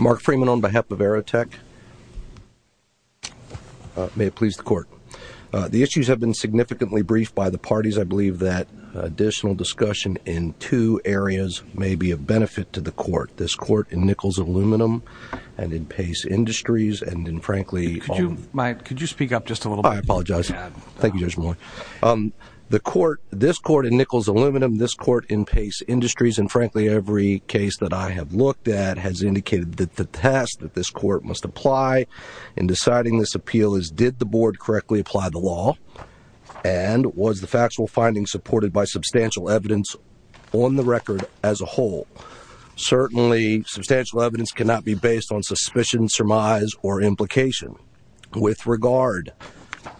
Mark Freeman, on behalf of Aerotek, may it please the Court. The issues have been significantly briefed by the parties. I believe that additional discussion in two areas may be of benefit to the Court. This Court in Nickels Aluminum, and in Pace Industries, and in, frankly, all of them. Could you speak up just a little bit? I apologize. Thank you, Judge Moore. The Court, this Court in Nickels Aluminum, this Court in Pace Industries, and, frankly, every case that I have looked at, has indicated that the task that this Court must apply in deciding this appeal is, did the Board correctly apply the law? And was the factual finding supported by substantial evidence on the record as a whole? Certainly, substantial evidence cannot be based on suspicion, surmise, or implication. With regard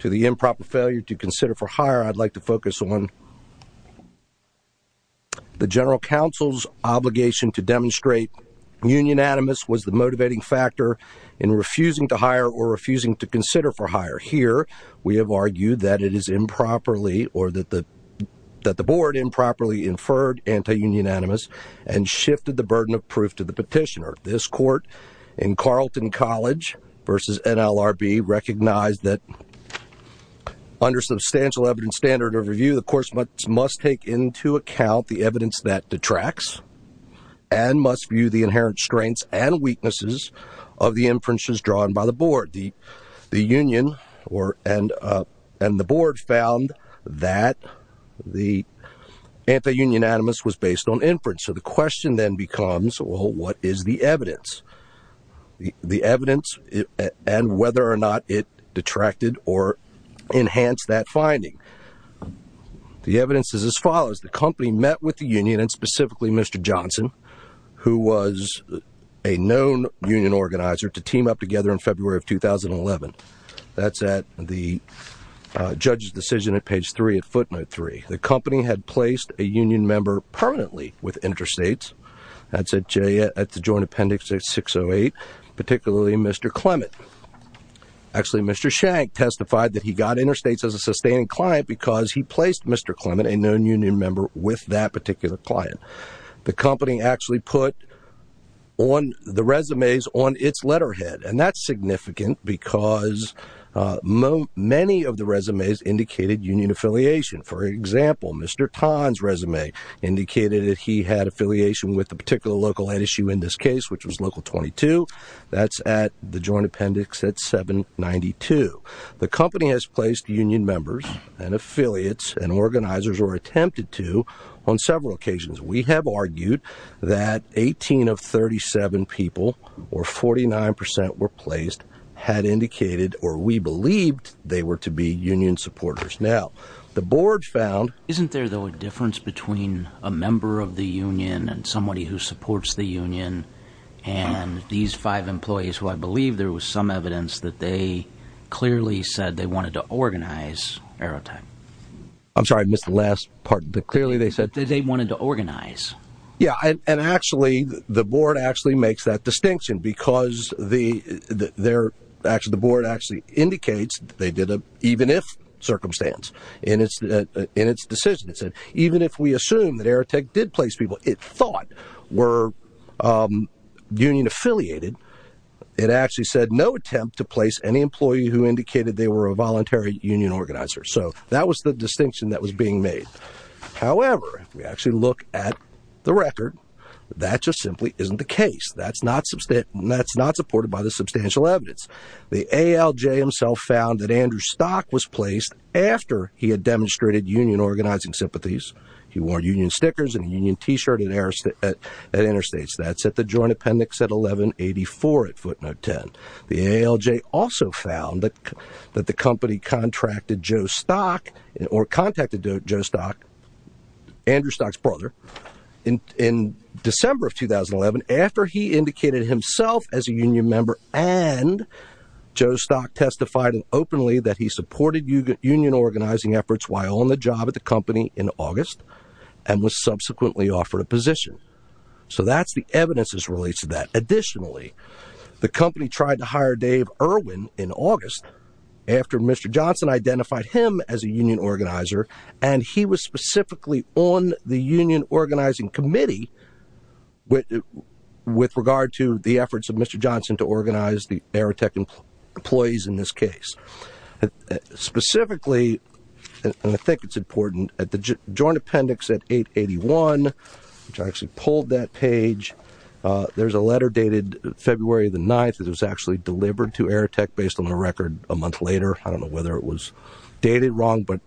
to the improper failure to consider for hire, I'd like to focus on the General Council's obligation to demonstrate unionanimous was the motivating factor in refusing to hire or refusing to consider for hire. Here, we have argued that it is improperly, or that the Board improperly inferred anti-unionanimous and shifted the burden of proof to the petitioner. This Court in Carleton College versus NLRB recognized that under substantial evidence standard of review, the Court must take into account the evidence that detracts and must view the inherent strengths and weaknesses of the inferences drawn by the Board. The Union and the Board found that the anti-unionanimous was based on inference. So the question then becomes, well, what is the evidence? The evidence and whether or not it detracted or enhanced that finding. The evidence is as follows. The company met with the Union, and specifically Mr. Johnson, who was a known union organizer, to team up together in February of 2011. That's at the judge's decision at page three of footnote three. The company had placed a union member permanently with Interstates. That's at Joint Appendix 608, particularly Mr. Clement. Actually, Mr. Shank testified that he got Interstates as a sustaining client because he placed Mr. Clement, a known union member, with that particular client. The company actually put the resumes on its letterhead, and that's significant because many of the resumes indicated union affiliation. For example, Mr. Tann's resume indicated that he had affiliation with a particular local NSU in this case, which was Local 22. That's at the Joint Appendix at 792. The company has placed union members and affiliates and organizers, or attempted to, on several occasions. We have argued that 18 of 37 people, or 49% were placed, had indicated, or we believed, they were to be union supporters. Now, the board found... Isn't there, though, a difference between a member of the union and somebody who supports the union and these five employees, who I believe there was some evidence that they clearly said they wanted to organize Aerotech? I'm sorry. I missed the last part. Clearly, they said... That they wanted to organize. Yeah, and actually, the board actually makes that distinction because the board actually indicates, even if circumstance, in its decision, it said, even if we assume that Aerotech did place people it thought were union affiliated, it actually said, no attempt to place any employee who indicated they were a voluntary union organizer. So that was the distinction that was being made. However, if we actually look at the record, that just simply isn't the case. That's not supported by the substantial evidence. The ALJ himself found that Andrew Stock was placed after he had demonstrated union organizing sympathies. He wore union stickers and a union t-shirt at Interstates. That's at the joint appendix at 1184 at footnote 10. The ALJ also found that the company contracted Joe Stock, or contacted Joe Stock, Andrew Joe Stock testified openly that he supported union organizing efforts while on the job at the company in August and was subsequently offered a position. So that's the evidence as relates to that. Additionally, the company tried to hire Dave Irwin in August after Mr. Johnson identified him as a union organizer, and he was specifically on the union organizing committee with regard to the efforts of Mr. Johnson to organize the Aerotech employees in this case. Specifically, and I think it's important, at the joint appendix at 881, which I actually pulled that page, there's a letter dated February the 9th that was actually delivered to Aerotech based on the record a month later. I don't know whether it was dated wrong, but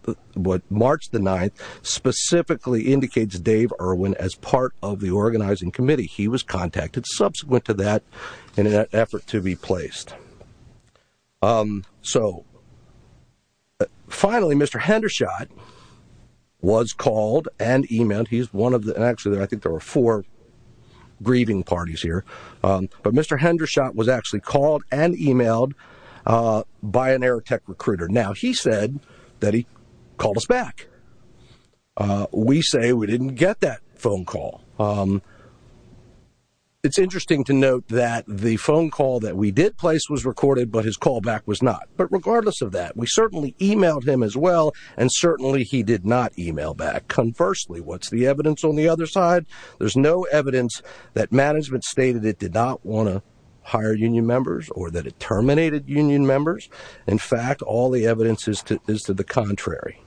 March the 9th specifically indicates Dave Irwin as part of the organizing committee. He was contacted subsequent to that in an effort to be placed. So finally, Mr. Hendershot was called and emailed. He's one of the, actually I think there were four grieving parties here, but Mr. Hendershot was actually called and emailed by an Aerotech recruiter. Now he said that he called us back. We say we didn't get that phone call. It's interesting to note that the phone call that we did place was recorded, but his call back was not. But regardless of that, we certainly emailed him as well, and certainly he did not email back. Conversely, what's the evidence on the other side? There's no evidence that management stated it did not want to hire union members or that it terminated union members. In fact, all the evidence is to the contrary.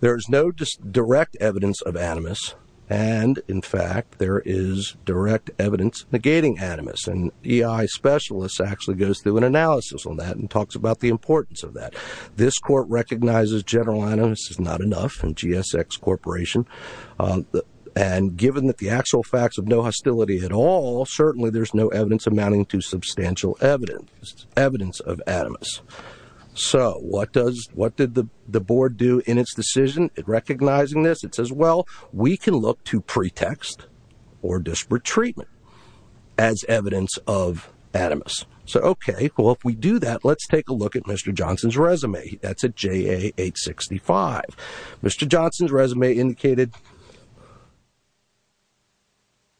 There's no direct evidence of animus, and in fact, there is direct evidence negating animus. An EI specialist actually goes through an analysis on that and talks about the importance of that. This court recognizes general animus is not enough in GSX Corporation, and given that the actual facts of no hostility at all, certainly there's no evidence amounting to substantial evidence, evidence of animus. So what did the board do in its decision in recognizing this? It says, well, we can look to pretext or disparate treatment as evidence of animus. So okay, well, if we do that, let's take a look at Mr. Johnson's resume. That's a JA 865. Mr. Johnson's resume indicated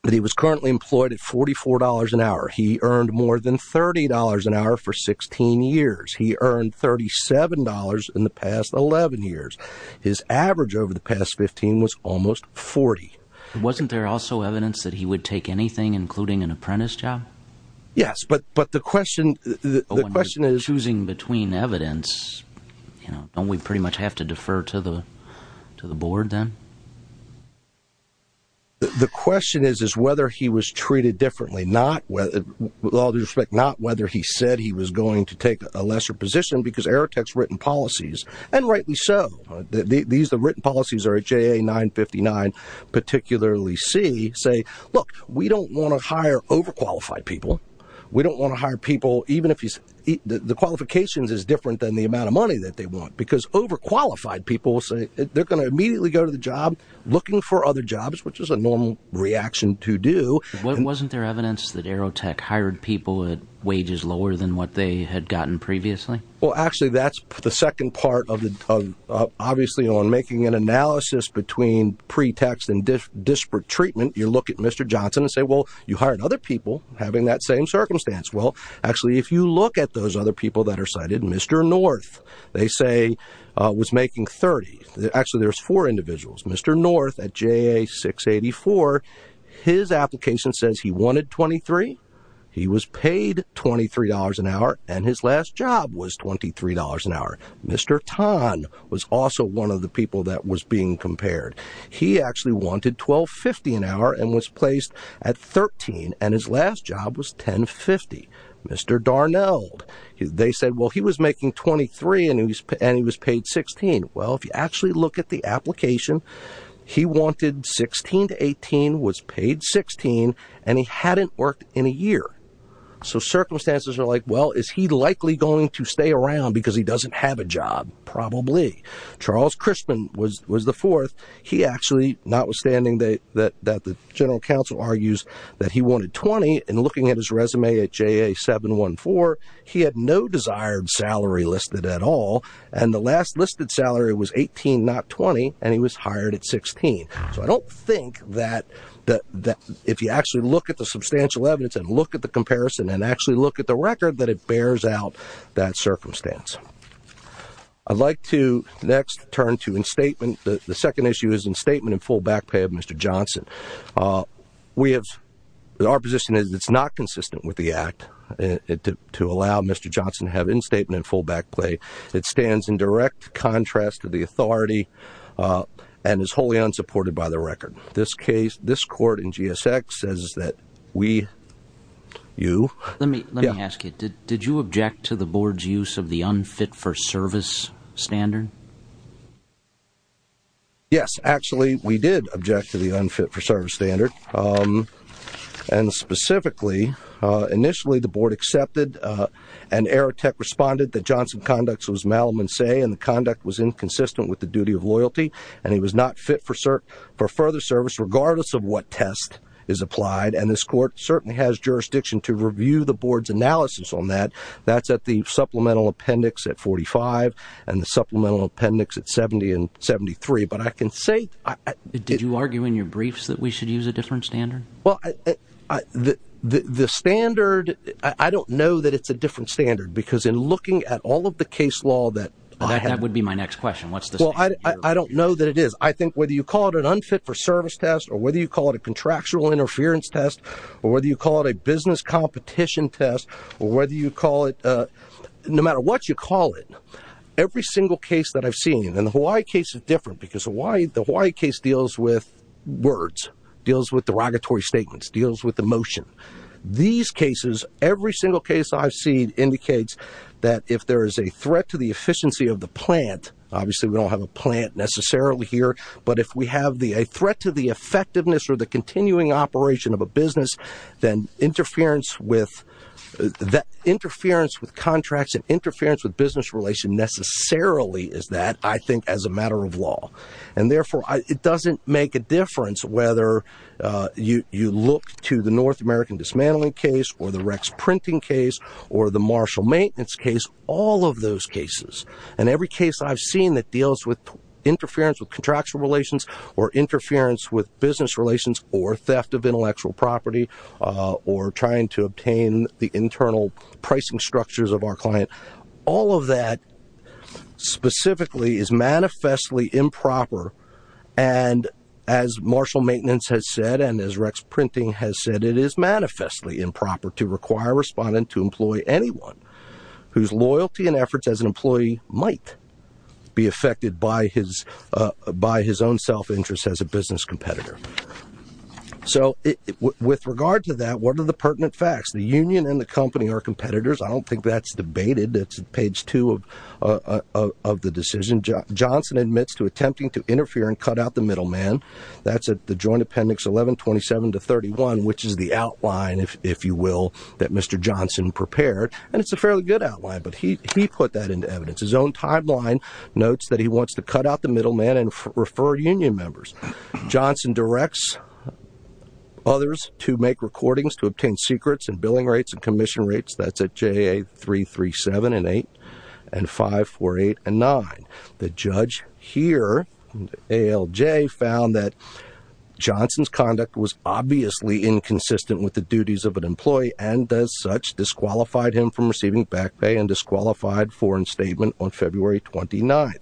that he was currently employed at $44 an hour. He earned more than $30 an hour for 16 years. He earned $37 in the past 11 years. His average over the past 15 was almost 40. Wasn't there also evidence that he would take anything, including an apprentice job? Yes. But the question, the question is choosing between evidence, you know, don't we pretty much have to defer to the board then? The question is, is whether he was treated differently, not with all due respect, not whether he said he was going to take a lesser position because Airtek's written policies, and rightly so. These, the written policies are at JA 959, particularly C, say, look, we don't want to hire overqualified people. We don't want to hire people, even if he's, the qualifications is different than the amount of money that they want, because overqualified people say they're going to immediately go to the job looking for other jobs, which is a normal reaction to do. Wasn't there evidence that Airtek hired people at wages lower than what they had gotten previously? Well, actually that's the second part of the, obviously on making an analysis between pretext and disparate treatment, you look at Mr. Johnson and say, well, you hired other people having that same circumstance. Well, actually, if you look at those other people that are cited, Mr. North, they say, was making 30. Actually, there's four individuals. Mr. North at JA 684, his application says he wanted 23. He was paid $23 an hour, and his last job was $23 an hour. Mr. Tan was also one of the people that was being compared. He actually wanted 12.50 an hour and was placed at 13, and his last job was 10.50. Mr. Darnell, they said, well, he was making 23 and he was paid 16. Well, if you actually look at the application, he wanted 16 to 18, was paid 16, and he hadn't worked in a year. So circumstances are like, well, is he likely going to stay around because he doesn't have a job? Probably. Charles Crispin was the fourth. He actually, notwithstanding that the general counsel argues that he wanted 20, and looking at his resume at JA 714, he had no desired salary listed at all. And the last listed salary was 18, not 20, and he was hired at 16. So I don't think that if you actually look at the substantial evidence and look at the comparison and actually look at the record, that it bears out that circumstance. I'd like to next turn to instatement. The second issue is instatement and full back pay of Mr. Johnson. Our position is it's not consistent with the act to allow Mr. Johnson to have instatement and full back pay. It stands in direct contrast to the authority and is wholly unsupported by the record. This case, this court in GSX says that we, you... Let me ask you, did you object to the board's use of the unfit-for-service standard? Yes, actually, we did object to the unfit-for-service standard. And specifically, initially, the board accepted and Aerotech responded that Johnson's conduct was malum in se, and the conduct was inconsistent with the duty of loyalty, and he was not fit for further service regardless of what test is applied, and this court certainly has jurisdiction to review the board's analysis on that. That's at the supplemental appendix at 45, and the supplemental appendix at 70 and 73, but I can say... Are you arguing in your briefs that we should use a different standard? Well, the standard, I don't know that it's a different standard, because in looking at all of the case law that... That would be my next question. What's the standard? Well, I don't know that it is. I think whether you call it an unfit-for-service test, or whether you call it a contractual interference test, or whether you call it a business competition test, or whether you call it, no matter what you call it, every single case that I've seen, and the Hawaii case deals with words, deals with derogatory statements, deals with emotion. These cases, every single case I've seen indicates that if there is a threat to the efficiency of the plant, obviously we don't have a plant necessarily here, but if we have a threat to the effectiveness or the continuing operation of a business, then interference with contracts and interference with business relation necessarily is that, I think, as a matter of law. And therefore, it doesn't make a difference whether you look to the North American Dismantling Case, or the Rex Printing Case, or the Marshall Maintenance Case, all of those cases. And every case I've seen that deals with interference with contractual relations, or interference with business relations, or theft of intellectual property, or trying to obtain the internal And as Marshall Maintenance has said, and as Rex Printing has said, it is manifestly improper to require a respondent to employ anyone whose loyalty and efforts as an employee might be affected by his own self-interest as a business competitor. So with regard to that, what are the pertinent facts? The union and the company are competitors. I don't think that's debated. It's page two of the decision. Johnson admits to attempting to interfere and cut out the middleman. That's at the Joint Appendix 1127 to 31, which is the outline, if you will, that Mr. Johnson prepared. And it's a fairly good outline, but he put that into evidence. His own timeline notes that he wants to cut out the middleman and refer union members. Johnson directs others to make recordings to obtain secrets and billing rates and commission rates. That's at JA 337 and 8 and 548 and 9. The judge here, ALJ, found that Johnson's conduct was obviously inconsistent with the duties of an employee and as such disqualified him from receiving back pay and disqualified foreign statement on February 29th.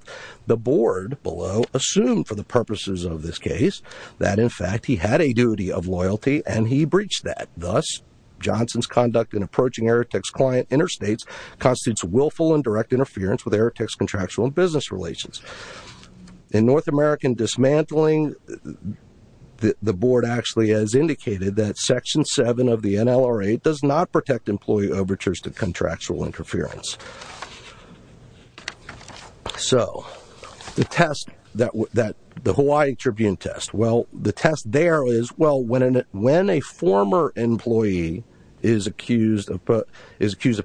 The board below assumed for the purposes of this case that in fact he had a duty of loyalty and he breached that. Thus, Johnson's conduct in approaching Airtex client interstates constitutes willful and direct interference with Airtex contractual and business relations. In North American Dismantling, the board actually has indicated that Section 7 of the NLRA does not protect employee overtures to contractual interference. So the test that the Hawaii Tribune test, well, the test there is, well, when a former employee is accused of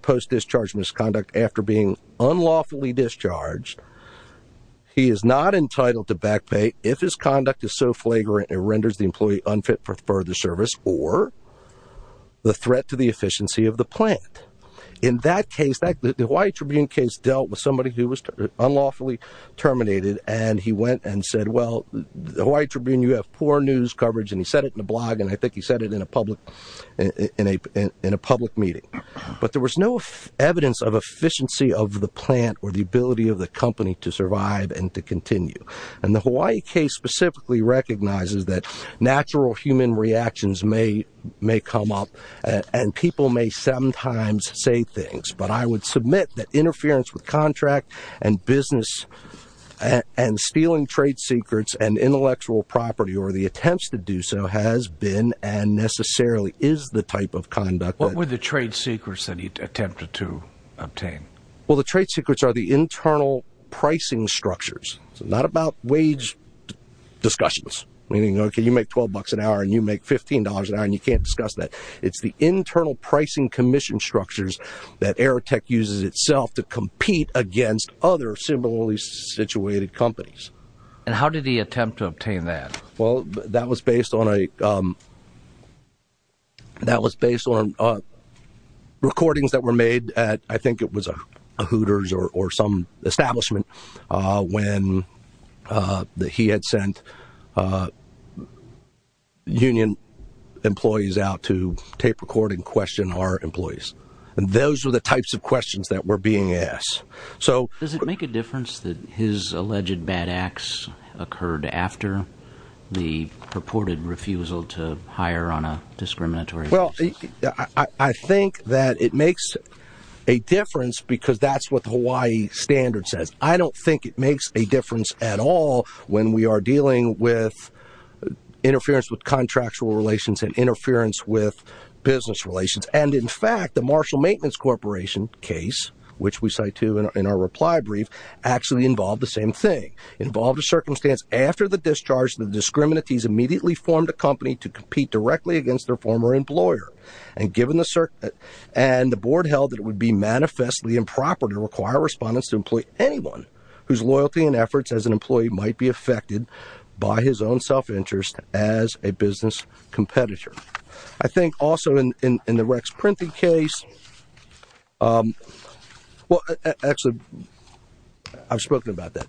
post-discharge misconduct after being unlawfully discharged, he is not entitled to back pay if his conduct is so flagrant it renders the employee unfit for further service or the threat to the efficiency of the plant. In that case, the Hawaii Tribune case dealt with somebody who was unlawfully terminated and he went and said, well, the Hawaii Tribune, you have poor news coverage and he said it in a blog and I think he said it in a public meeting. But there was no evidence of efficiency of the plant or the ability of the company to survive and to continue. And the Hawaii case specifically recognizes that natural human reactions may come up and people may sometimes say things. But I would submit that interference with contract and business and stealing trade secrets and intellectual property or the attempts to do so has been and necessarily is the type of conduct that... What were the trade secrets that he attempted to obtain? Well, the trade secrets are the internal pricing structures. Not about wage discussions, meaning, okay, you make $12 an hour and you make $15 an hour and you can't discuss that. It's the internal pricing commission structures that Aerotech uses itself to compete against other similarly situated companies. And how did he attempt to obtain that? Well, that was based on recordings that were made at, I think it was a Hooters or some establishment when he had sent union employees out to tape record and question our employees. And those were the types of questions that were being asked. Does it make a difference that his alleged bad acts occurred after the purported refusal to hire on a discriminatory basis? Well, I think that it makes a difference because that's what the Hawaii standard says. I don't think it makes a difference at all when we are dealing with interference with contractual relations and interference with business relations. And in fact, the Marshall Maintenance Corporation case, which we cite to in our reply brief, actually involved the same thing. Involved a circumstance after the discharge, the discriminanties immediately formed a company to compete directly against their former employer. And given the, and the board held that it would be manifestly improper to require respondents to employ anyone whose loyalty and efforts as an employee might be affected by his own self-interest as a business competitor. I think also in the Rex Printing case, well, actually I've spoken about that.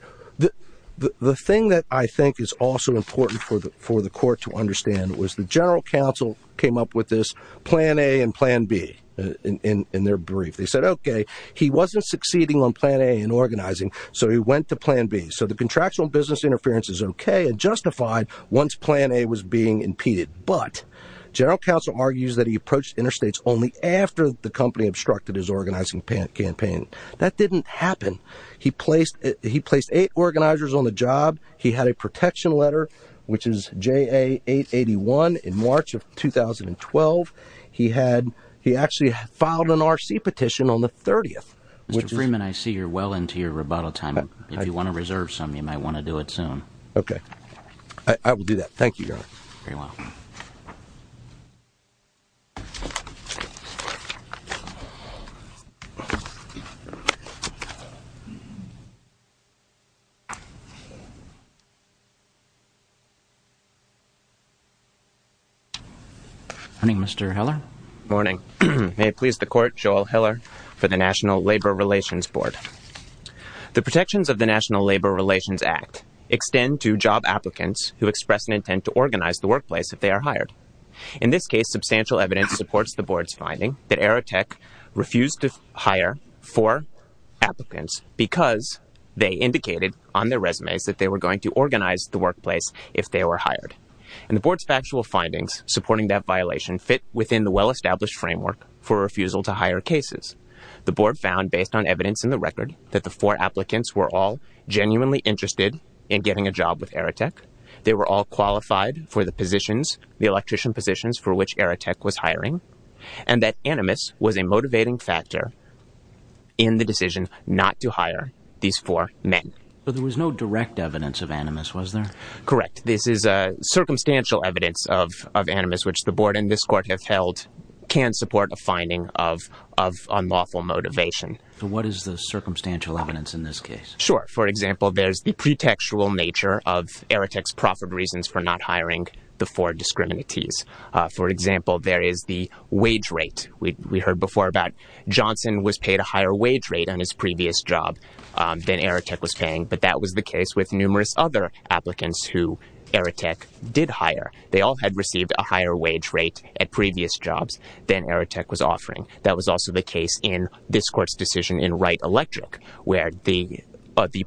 The thing that I think is also important for the court to understand was the general counsel came up with this plan A and plan B in their brief. They said, okay, he wasn't succeeding on plan A in organizing, so he went to plan B. So the contractual business interference is okay and justified once plan A was being impeded. But general counsel argues that he approached interstates only after the company obstructed his organizing campaign. That didn't happen. He placed, he placed eight organizers on the job. He had a protection letter, which is JA 881 in March of 2012. He had, he actually filed an RC petition on the 30th. Mr. Freeman, I see you're well into your rebuttal time. If you want to reserve some, you might want to do it soon. Okay. I will do that. Thank you, Your Honor. Very well. Morning, Mr. Hiller. Morning. May it please the Court, Joel Hiller for the National Labor Relations Board. The protections of the National Labor Relations Act extend to job applicants who express an intention to organize the workplace if they are hired. In this case, substantial evidence supports the Board's finding that Aerotech refused to hire four applicants because they indicated on their resumes that they were going to organize the workplace if they were hired. And the Board's factual findings supporting that violation fit within the well-established framework for refusal to hire cases. The Board found, based on evidence in the record, that the four applicants were all genuinely interested in getting a job with Aerotech. They were all qualified for the positions, the electrician positions, for which Aerotech was hiring, and that Animus was a motivating factor in the decision not to hire these four men. But there was no direct evidence of Animus, was there? Correct. This is circumstantial evidence of Animus, which the Board and this Court have held can support a finding of unlawful motivation. What is the circumstantial evidence in this case? Sure. For example, there's the pretextual nature of Aerotech's profit reasons for not hiring the four discriminatees. For example, there is the wage rate. We heard before about Johnson was paid a higher wage rate on his previous job than Aerotech was paying, but that was the case with numerous other applicants who Aerotech did hire. They all had received a higher wage rate at previous jobs than Aerotech was offering. That was also the case in this Court's decision in Wright Electric, where the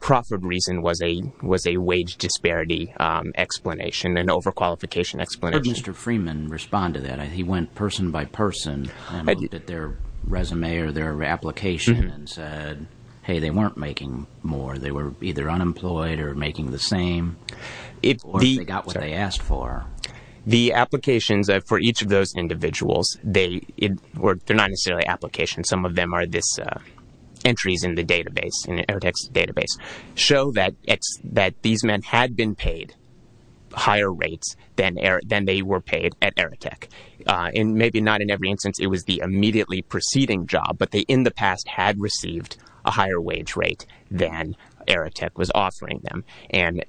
profit reason was a wage disparity explanation, an overqualification explanation. How did Mr. Freeman respond to that? He went person by person and looked at their resume or their application and said, hey, they weren't making more. They were either unemployed or making the same, or they got what they asked for. The applications for each of those individuals, they're not necessarily applications. Some of them are entries in the database, in Aerotech's database, show that these men had been paid higher rates than they were paid at Aerotech. Maybe not in every instance. It was the immediately preceding job, but they in the past had received a higher wage rate than Aerotech was offering them.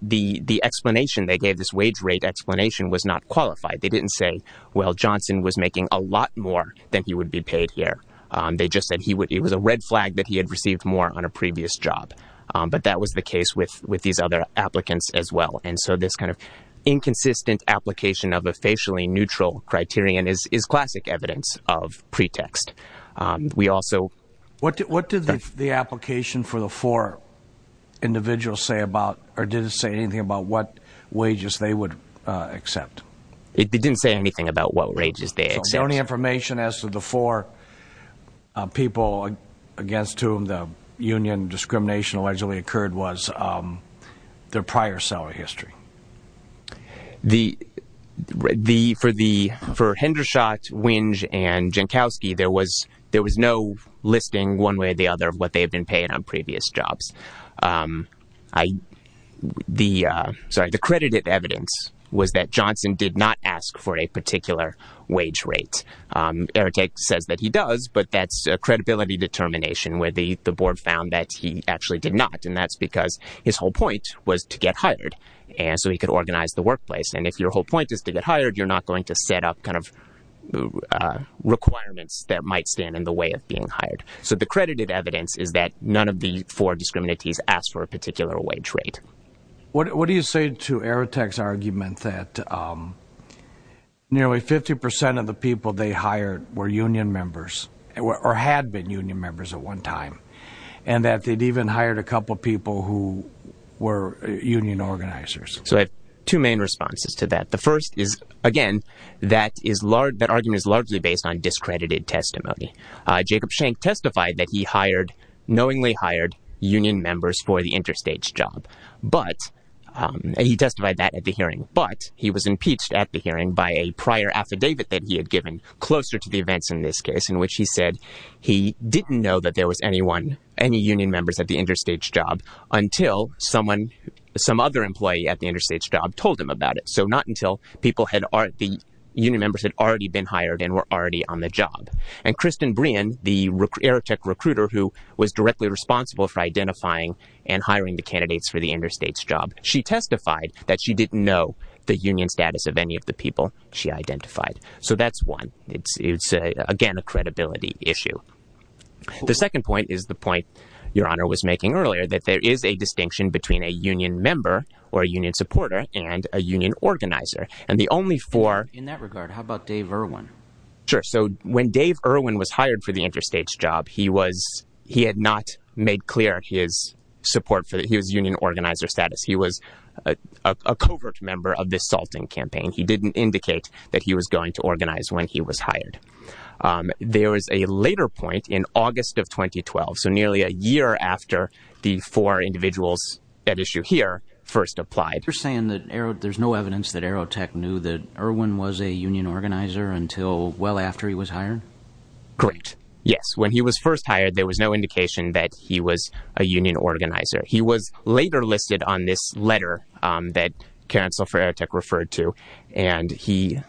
The explanation they gave, this wage rate explanation, was not qualified. They didn't say, well, Johnson was making a lot more than he would be paid here. They just said it was a red flag that he had received more on a previous job. That was the case with these other applicants as well. This kind of inconsistent application of a facially neutral criterion is classic evidence of pretext. What did the application for the four individuals say about, or did it say anything about what wages they would accept? It didn't say anything about what wages they accepted. So the only information as to the four people against whom the union discrimination allegedly occurred was their prior salary history? For Hendershot, Winge, and Jankowski, there was no listing one way or the other of what they had been paid on previous jobs. The credited evidence was that Johnson did not ask for a particular wage rate. Aerotech says that he does, but that's a credibility determination where the board found that he actually did not. And that's because his whole point was to get hired so he could organize the workplace. And if your whole point is to get hired, you're not going to set up requirements that might stand in the way of being hired. So the credited evidence is that none of the four discriminates asked for a particular wage rate. What do you say to Aerotech's argument that nearly 50% of the people they hired were union members at one time? And that they'd even hired a couple people who were union organizers? So I have two main responses to that. The first is, again, that argument is largely based on discredited testimony. Jacob Schenck testified that he knowingly hired union members for the interstate job. But he testified that at the hearing. But he was impeached at the hearing by a prior affidavit that he had given closer to the know that there was anyone, any union members at the interstate job until someone, some other employee at the interstate job told him about it. So not until people had the union members had already been hired and were already on the job. And Kristin Brien, the Aerotech recruiter who was directly responsible for identifying and hiring the candidates for the interstate job. She testified that she didn't know the union status of any of the people she identified. So that's one. It's it's, again, a credibility issue. The second point is the point your honor was making earlier, that there is a distinction between a union member or a union supporter and a union organizer. And the only for in that regard, how about Dave Irwin? Sure. So when Dave Irwin was hired for the interstate job, he was he had not made clear his support for his union organizer status. He was a covert member of this salting campaign. He didn't indicate that he was going to organize when he was hired. There was a later point in August of 2012. So nearly a year after the four individuals at issue here first applied. You're saying that there's no evidence that Aerotech knew that Irwin was a union organizer until well after he was hired? Correct. Yes. When he was first hired, there was no indication that he was a union organizer. He was later listed on this letter that Karen Sulfur Aerotech referred to. And he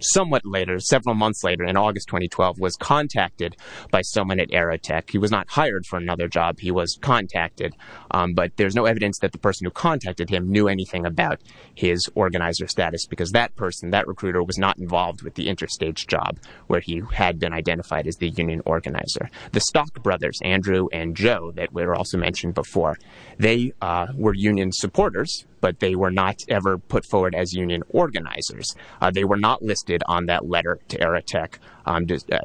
somewhat later, several months later, in August 2012, was contacted by someone at Aerotech. He was not hired for another job. He was contacted. But there's no evidence that the person who contacted him knew anything about his organizer status because that person, that recruiter was not involved with the interstate job where he had been identified as the union organizer. The Stock Brothers, Andrew and Joe, that were also mentioned before, they were union supporters, but they were not ever put forward as union organizers. They were not listed on that letter to Aerotech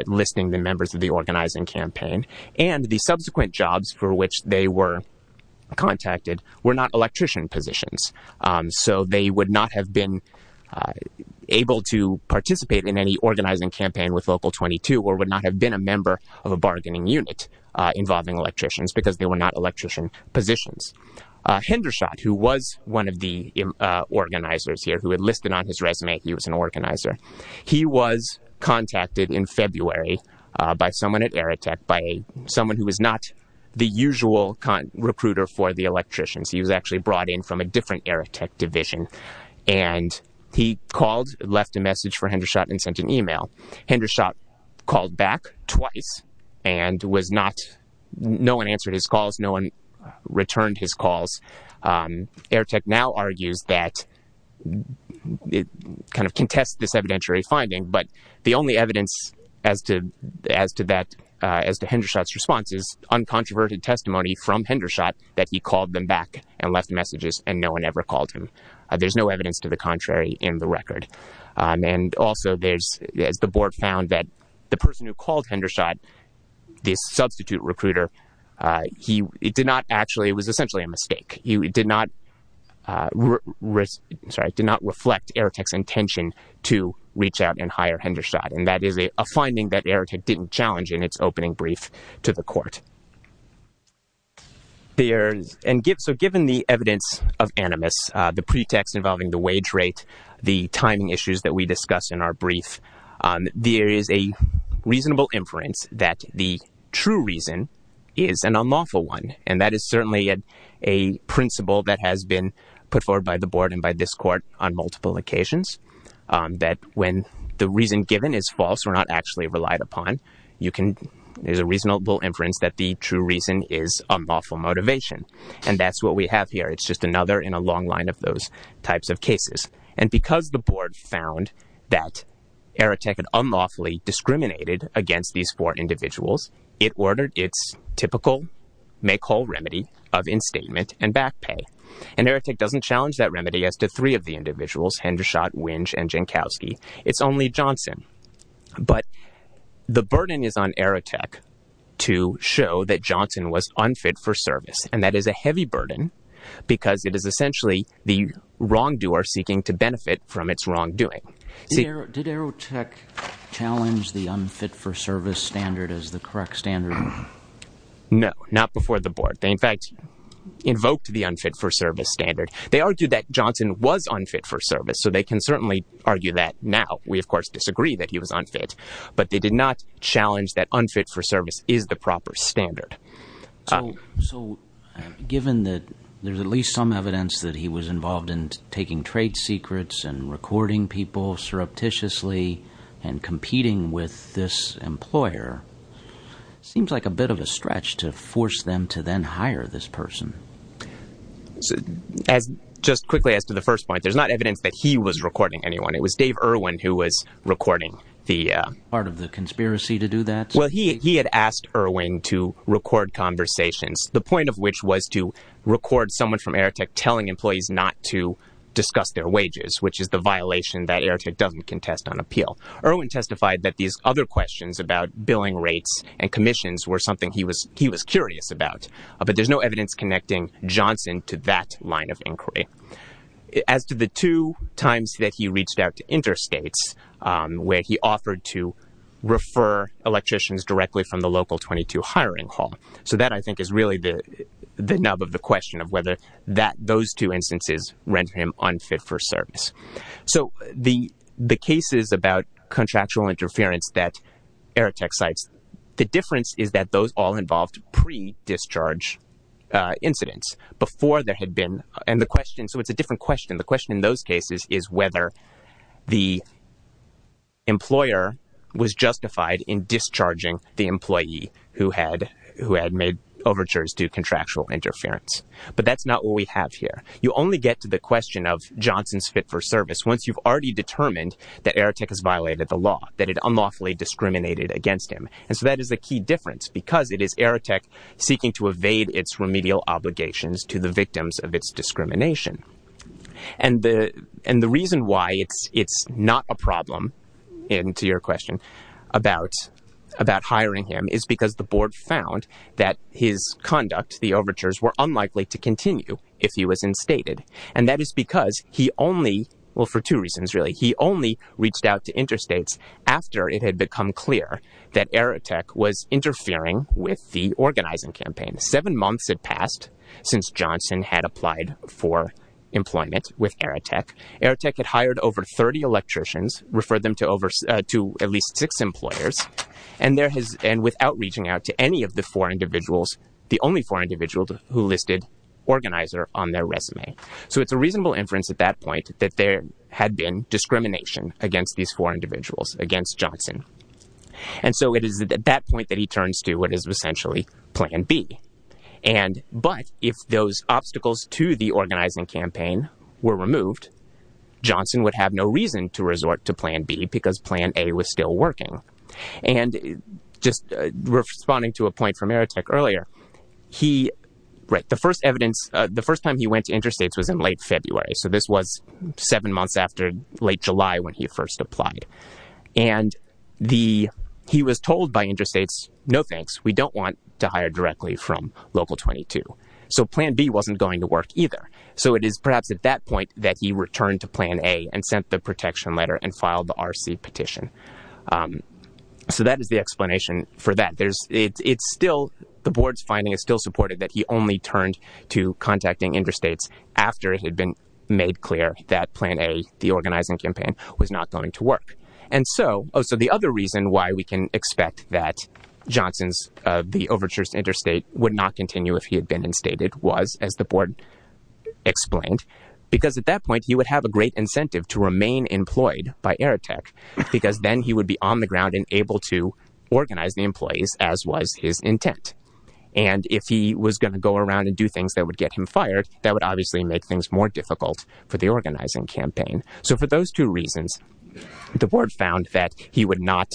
listing the members of the organizing campaign. And the subsequent jobs for which they were contacted were not electrician positions. So they would not have been able to participate in any organizing campaign with Local 22 or would not have been a member of a bargaining unit involving electricians because they were not electrician positions. Hendershot, who was one of the organizers here, who had listed on his resume he was an organizer, he was contacted in February by someone at Aerotech, by someone who was not the usual recruiter for the electricians. He was actually brought in from a different Aerotech division. And he called, left a message for Hendershot and sent an email. Hendershot called back twice and was not, no one answered his calls. No one returned his calls. Aerotech now argues that it kind of contests this evidentiary finding. But the only evidence as to that, as to Hendershot's response is uncontroverted testimony from Hendershot that he called them back and left messages and no one ever called him. There's no evidence to the contrary in the record. And also there's, as the board found, that the person who called Hendershot, this substitute recruiter, he did not actually, it was essentially a mistake. He did not, sorry, did not reflect Aerotech's intention to reach out and hire Hendershot. And that is a finding that Aerotech didn't challenge in its opening brief to the court. And so given the evidence of animus, the pretext involving the wage rate, the timing issues that we discussed in our brief, there is a reasonable inference that the true reason is an unlawful one. And that is certainly a principle that has been put forward by the board and by this court on multiple occasions, that when the reason given is false or not actually relied upon, you can, there's a reasonable inference that the true reason is unlawful motivation. And that's what we have here. It's just another in a long line of those types of cases. And because the board found that Aerotech had unlawfully discriminated against these four individuals, it ordered its typical make whole remedy of instatement and back pay. And Aerotech doesn't challenge that remedy as to three of the individuals, Hendershot, Winch, and Jankowski. It's only Johnson. But the burden is on Aerotech to show that Johnson was unfit for service. And that is a heavy burden because it is essentially the wrongdoer seeking to benefit from its wrongdoing. Did Aerotech challenge the unfit for service standard as the correct standard? No, not before the board. They, in fact, invoked the unfit for service standard. They argued that Johnson was unfit for service. So they can certainly argue that now. We, of course, disagree that he was unfit. But they did not challenge that unfit for service is the proper standard. So given that there's at least some evidence that he was involved in taking trade secrets and recording people surreptitiously and competing with this employer, it seems like a bit of a stretch to force them to then hire this person. Just quickly as to the first point, there's not evidence that he was recording anyone. It was Dave Irwin who was recording the part of the conspiracy to do that. Well, he had asked Irwin to record conversations, the point of which was to record someone from Aerotech telling employees not to discuss their wages, which is the violation that Aerotech doesn't contest on appeal. Irwin testified that these other questions about billing rates and commissions were something he was he was curious about. But there's no evidence connecting Johnson to that line of inquiry. As to the two times that he reached out to interstates where he offered to refer electricians directly from the local 22 hiring hall. So that I think is really the nub of the question of whether those two instances render him unfit for service. So the cases about contractual interference that Aerotech cites, the difference is that those all involved pre-discharge incidents. So it's a different question. The question in those cases is whether the employer was justified in discharging the employee who had made overtures to contractual interference. But that's not what we have here. You only get to the question of Johnson's fit for service once you've already determined that Aerotech has violated the law, that it unlawfully discriminated against him. So that is a key difference because it is Aerotech seeking to evade its remedial obligations to the victims of its discrimination. And the reason why it's not a problem, to your question, about hiring him is because the board found that his conduct, the overtures, were unlikely to continue if he was instated. And that is because he only, well for two reasons really, he only reached out to interstates after it had become clear that Aerotech was interfering with the organizing campaign. Seven months had passed since Johnson had applied for employment with Aerotech. Aerotech had hired over 30 electricians, referred them to at least six employers, and without reaching out to any of the four individuals, the only four individuals who listed organizer on their resume. So it's a reasonable inference at that point that there had been discrimination against these four individuals, against Johnson. And so it is at that point that he turns to what is essentially plan B. But if those obstacles to the organizing campaign were removed, Johnson would have no reason to resort to plan B because plan A was still working. And just responding to a point from Aerotech earlier, the first evidence, the first time he went to interstates was in late February. So this was seven months after late July when he first applied. And he was told by interstates, no thanks, we don't want to hire directly from local 22. So plan B wasn't going to work either. So it is perhaps at that point that he returned to plan A and sent the protection letter and filed the RC petition. So that is the explanation for that. It's still, the board's finding is still supported that he only turned to contacting interstates after it had been made clear that plan A, the organizing campaign, was not going to work. And so, oh, so the other reason why we can expect that Johnson's, the overtures to interstate would not continue if he had been instated was, as the board explained, because at that point he would have a great incentive to remain employed by Aerotech because then he would be on the ground and able to organize the employees as was his intent. And if he was going to go around and do things that would get him fired, that would obviously make things more difficult for the organizing campaign. So for those two reasons, the board found that he would not,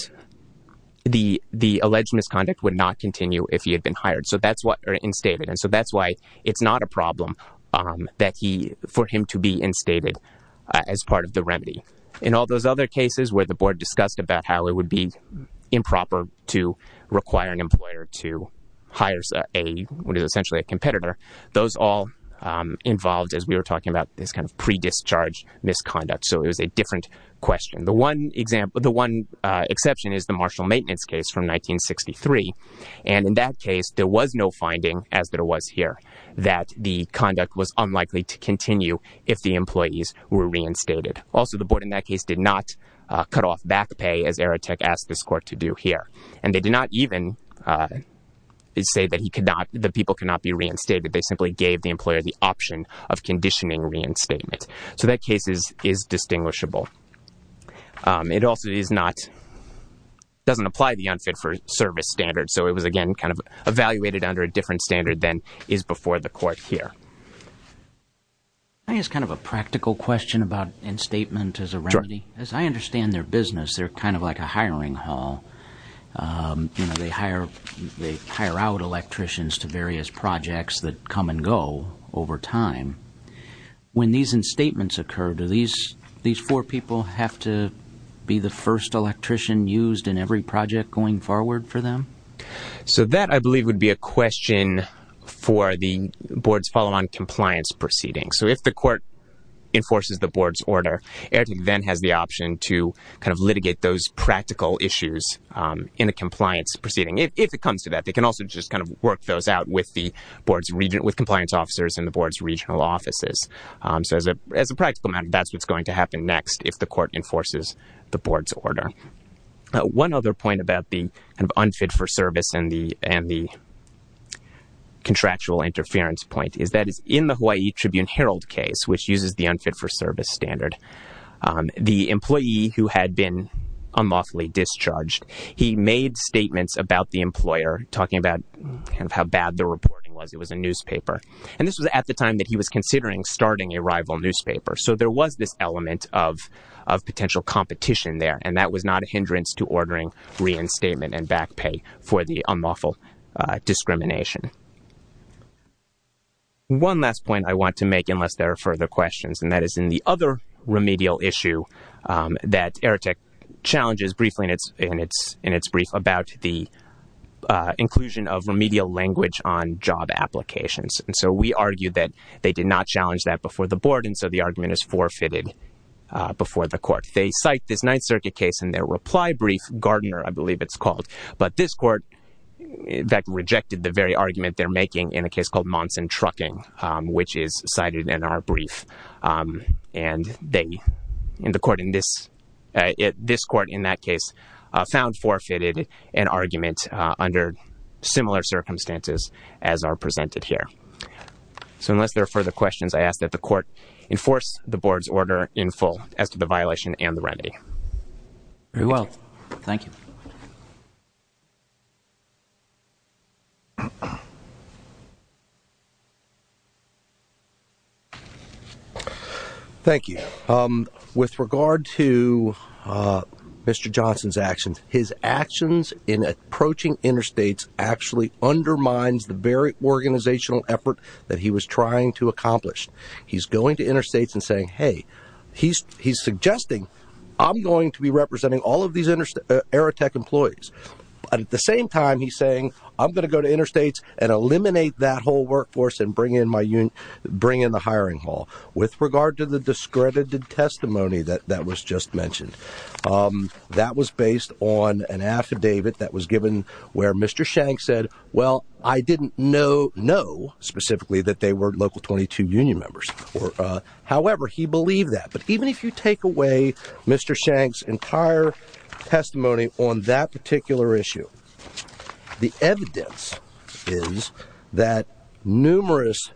the alleged misconduct would not continue if he had been hired, or instated. And so that's why it's not a problem for him to be instated as part of the remedy. In all those other cases where the board discussed about how it would be improper to require an employer to hire a, what is essentially a competitor, those all involved, as we were talking about, this kind of pre-discharge misconduct. So it was a different question. The one exception is the Marshall Maintenance case from 1963. And in that case, there was no finding, as there was here, that the conduct was unlikely to continue if the employees were reinstated. Also the board in that case did not cut off back pay, as Aerotech asked this court to do here. And they did not even say that he could not, that people could not be reinstated. They simply gave the employer the option of conditioning reinstatement. So that case is distinguishable. It also is not, doesn't apply the unfit for service standard. So it was, again, kind of evaluated under a different standard than is before the court here. Can I ask kind of a practical question about instatement as a remedy? As I understand their business, they're kind of like a hiring hall. You know, they hire out electricians to various projects that come and go over time. When these instatements occur, do these four people have to be the first electrician used in every project going forward for them? So that, I believe, would be a question for the board's follow-on compliance proceeding. So if the court enforces the board's order, Aerotech then has the option to kind of litigate those practical issues in a compliance proceeding. If it comes to that, they can also just kind of work those out with the board's, with compliance officers in the board's regional offices. So as a practical matter, that's what's going to happen next if the court enforces the board's order. One other point about the kind of unfit for service and the contractual interference point is that in the Hawaii Tribune-Herald case, which uses the unfit for service standard, the employee who had been unlawfully discharged, he made statements about the employer, talking about kind of how bad the reporting was. It was a newspaper. And this was at the time that he was considering starting a rival newspaper. So there was this element of potential competition there, and that was not a hindrance to ordering reinstatement and back pay for the unlawful discrimination. One last point I want to make, unless there are further questions, and that is in the other remedial issue that Aerotech challenges briefly in its brief about the inclusion of remedial language on job applications. And so we argue that they did not challenge that before the board, and so the argument is forfeited before the court. They cite this Ninth Circuit case in their reply brief, Gardner, I believe it's called. But this court, in fact, rejected the very argument they're making in a case called Monson Trucking, which is cited in our brief. And this court in that case found forfeited an argument under similar circumstances as are presented here. So unless there are further questions, I ask that the court enforce the board's order in the remedy. Very well, thank you. Thank you. With regard to Mr. Johnson's actions, his actions in approaching interstates actually undermines the very organizational effort that he was trying to accomplish. He's going to interstates and saying, hey, he's suggesting I'm going to be representing all of these Aerotech employees, but at the same time he's saying I'm going to go to interstates and eliminate that whole workforce and bring in the hiring hall. With regard to the discredited testimony that was just mentioned, that was based on an affidavit that was given where Mr. Shank said, well, I didn't know specifically that they were local 22 union members or, uh, however he believed that. But even if you take away Mr. Shank's entire testimony on that particular issue, the evidence is that numerous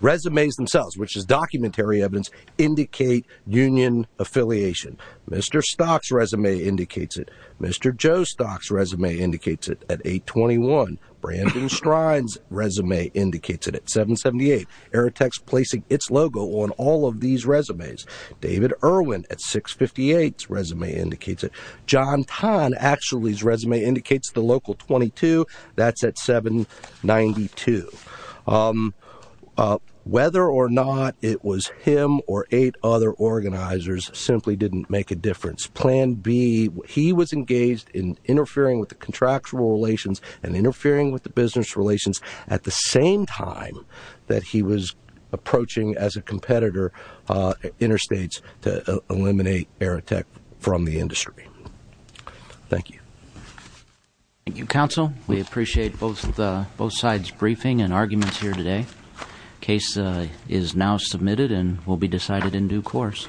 resumes themselves, which is documentary evidence, indicate union affiliation. Mr. Stock's resume indicates it. Mr. Joe Stock's resume indicates it at 821. Brandon Strine's resume indicates it at 778. Aerotech's placing its logo on all of these resumes. David Irwin at 658's resume indicates it. John Tan actually's resume indicates the local 22, that's at 792. Whether or not it was him or eight other organizers simply didn't make a difference. It's plan B. He was engaged in interfering with the contractual relations and interfering with the business relations at the same time that he was approaching as a competitor interstates to eliminate Aerotech from the industry. Thank you. Thank you, counsel. We appreciate both sides' briefing and arguments here today. Case is now submitted and will be decided in due course.